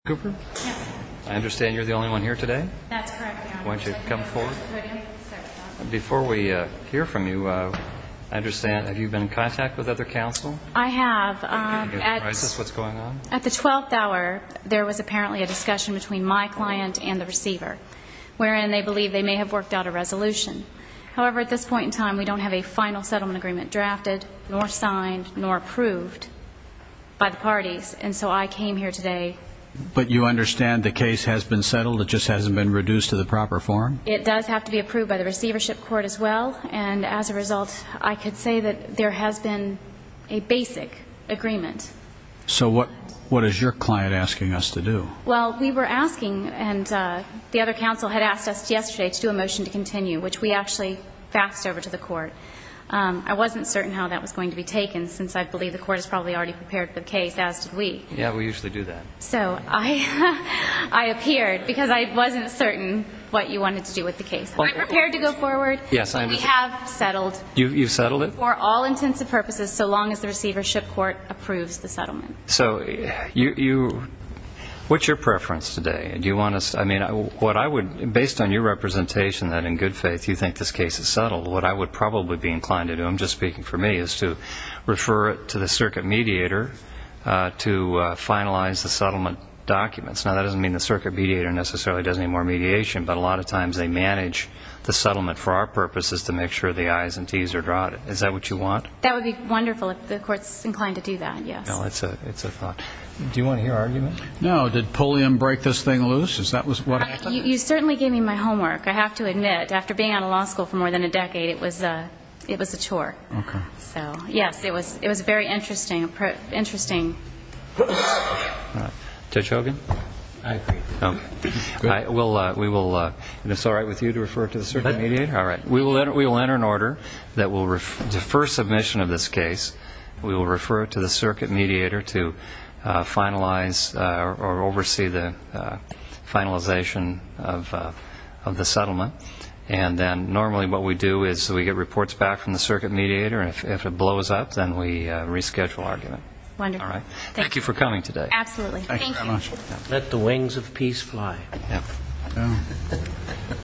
I understand you're the only one here today? That's correct, Your Honor. Why don't you come forward? Before we hear from you, I understand you've been in contact with other counsel? I have. Is this what's going on? At the 12th hour, there was apparently a discussion between my client and the receiver, wherein they believe they may have worked out a resolution. However, at this point in time, we don't have a final settlement agreement drafted, nor signed, nor approved by the parties. And so I came here today. But you understand the case has been settled? It just hasn't been reduced to the proper form? It does have to be approved by the receivership court as well. And as a result, I could say that there has been a basic agreement. So what is your client asking us to do? Well, we were asking, and the other counsel had asked us yesterday to do a motion to continue, which we actually faxed over to the court. I wasn't certain how that was going to be taken, since I believe the court has probably already prepared the case, as did we. Yeah, we usually do that. So I appeared because I wasn't certain what you wanted to do with the case. Are you prepared to go forward? Yes, I am. We have settled. You've settled it? For all intents and purposes, so long as the receivership court approves the settlement. So what's your preference today? Do you want to say? I mean, based on your representation that in good faith you think this case is settled, what I would probably be inclined to do, I'm just speaking for me, is to refer it to the circuit mediator to finalize the settlement documents. Now, that doesn't mean the circuit mediator necessarily does any more mediation, but a lot of times they manage the settlement for our purposes to make sure the I's and T's are drawn. Is that what you want? That would be wonderful if the court's inclined to do that, yes. It's a thought. Do you want to hear an argument? No. Did Pulliam break this thing loose? You certainly gave me my homework. I have to admit, after being out of law school for more than a decade, it was a chore. So, yes, it was very interesting. Judge Hogan? I agree. It's all right with you to refer it to the circuit mediator? All right. We will enter an order that will defer submission of this case. We will refer it to the circuit mediator to finalize or oversee the finalization of the settlement. And then normally what we do is we get reports back from the circuit mediator, and if it blows up, then we reschedule argument. Wonderful. Thank you for coming today. Absolutely. Thank you very much. Let the wings of peace fly.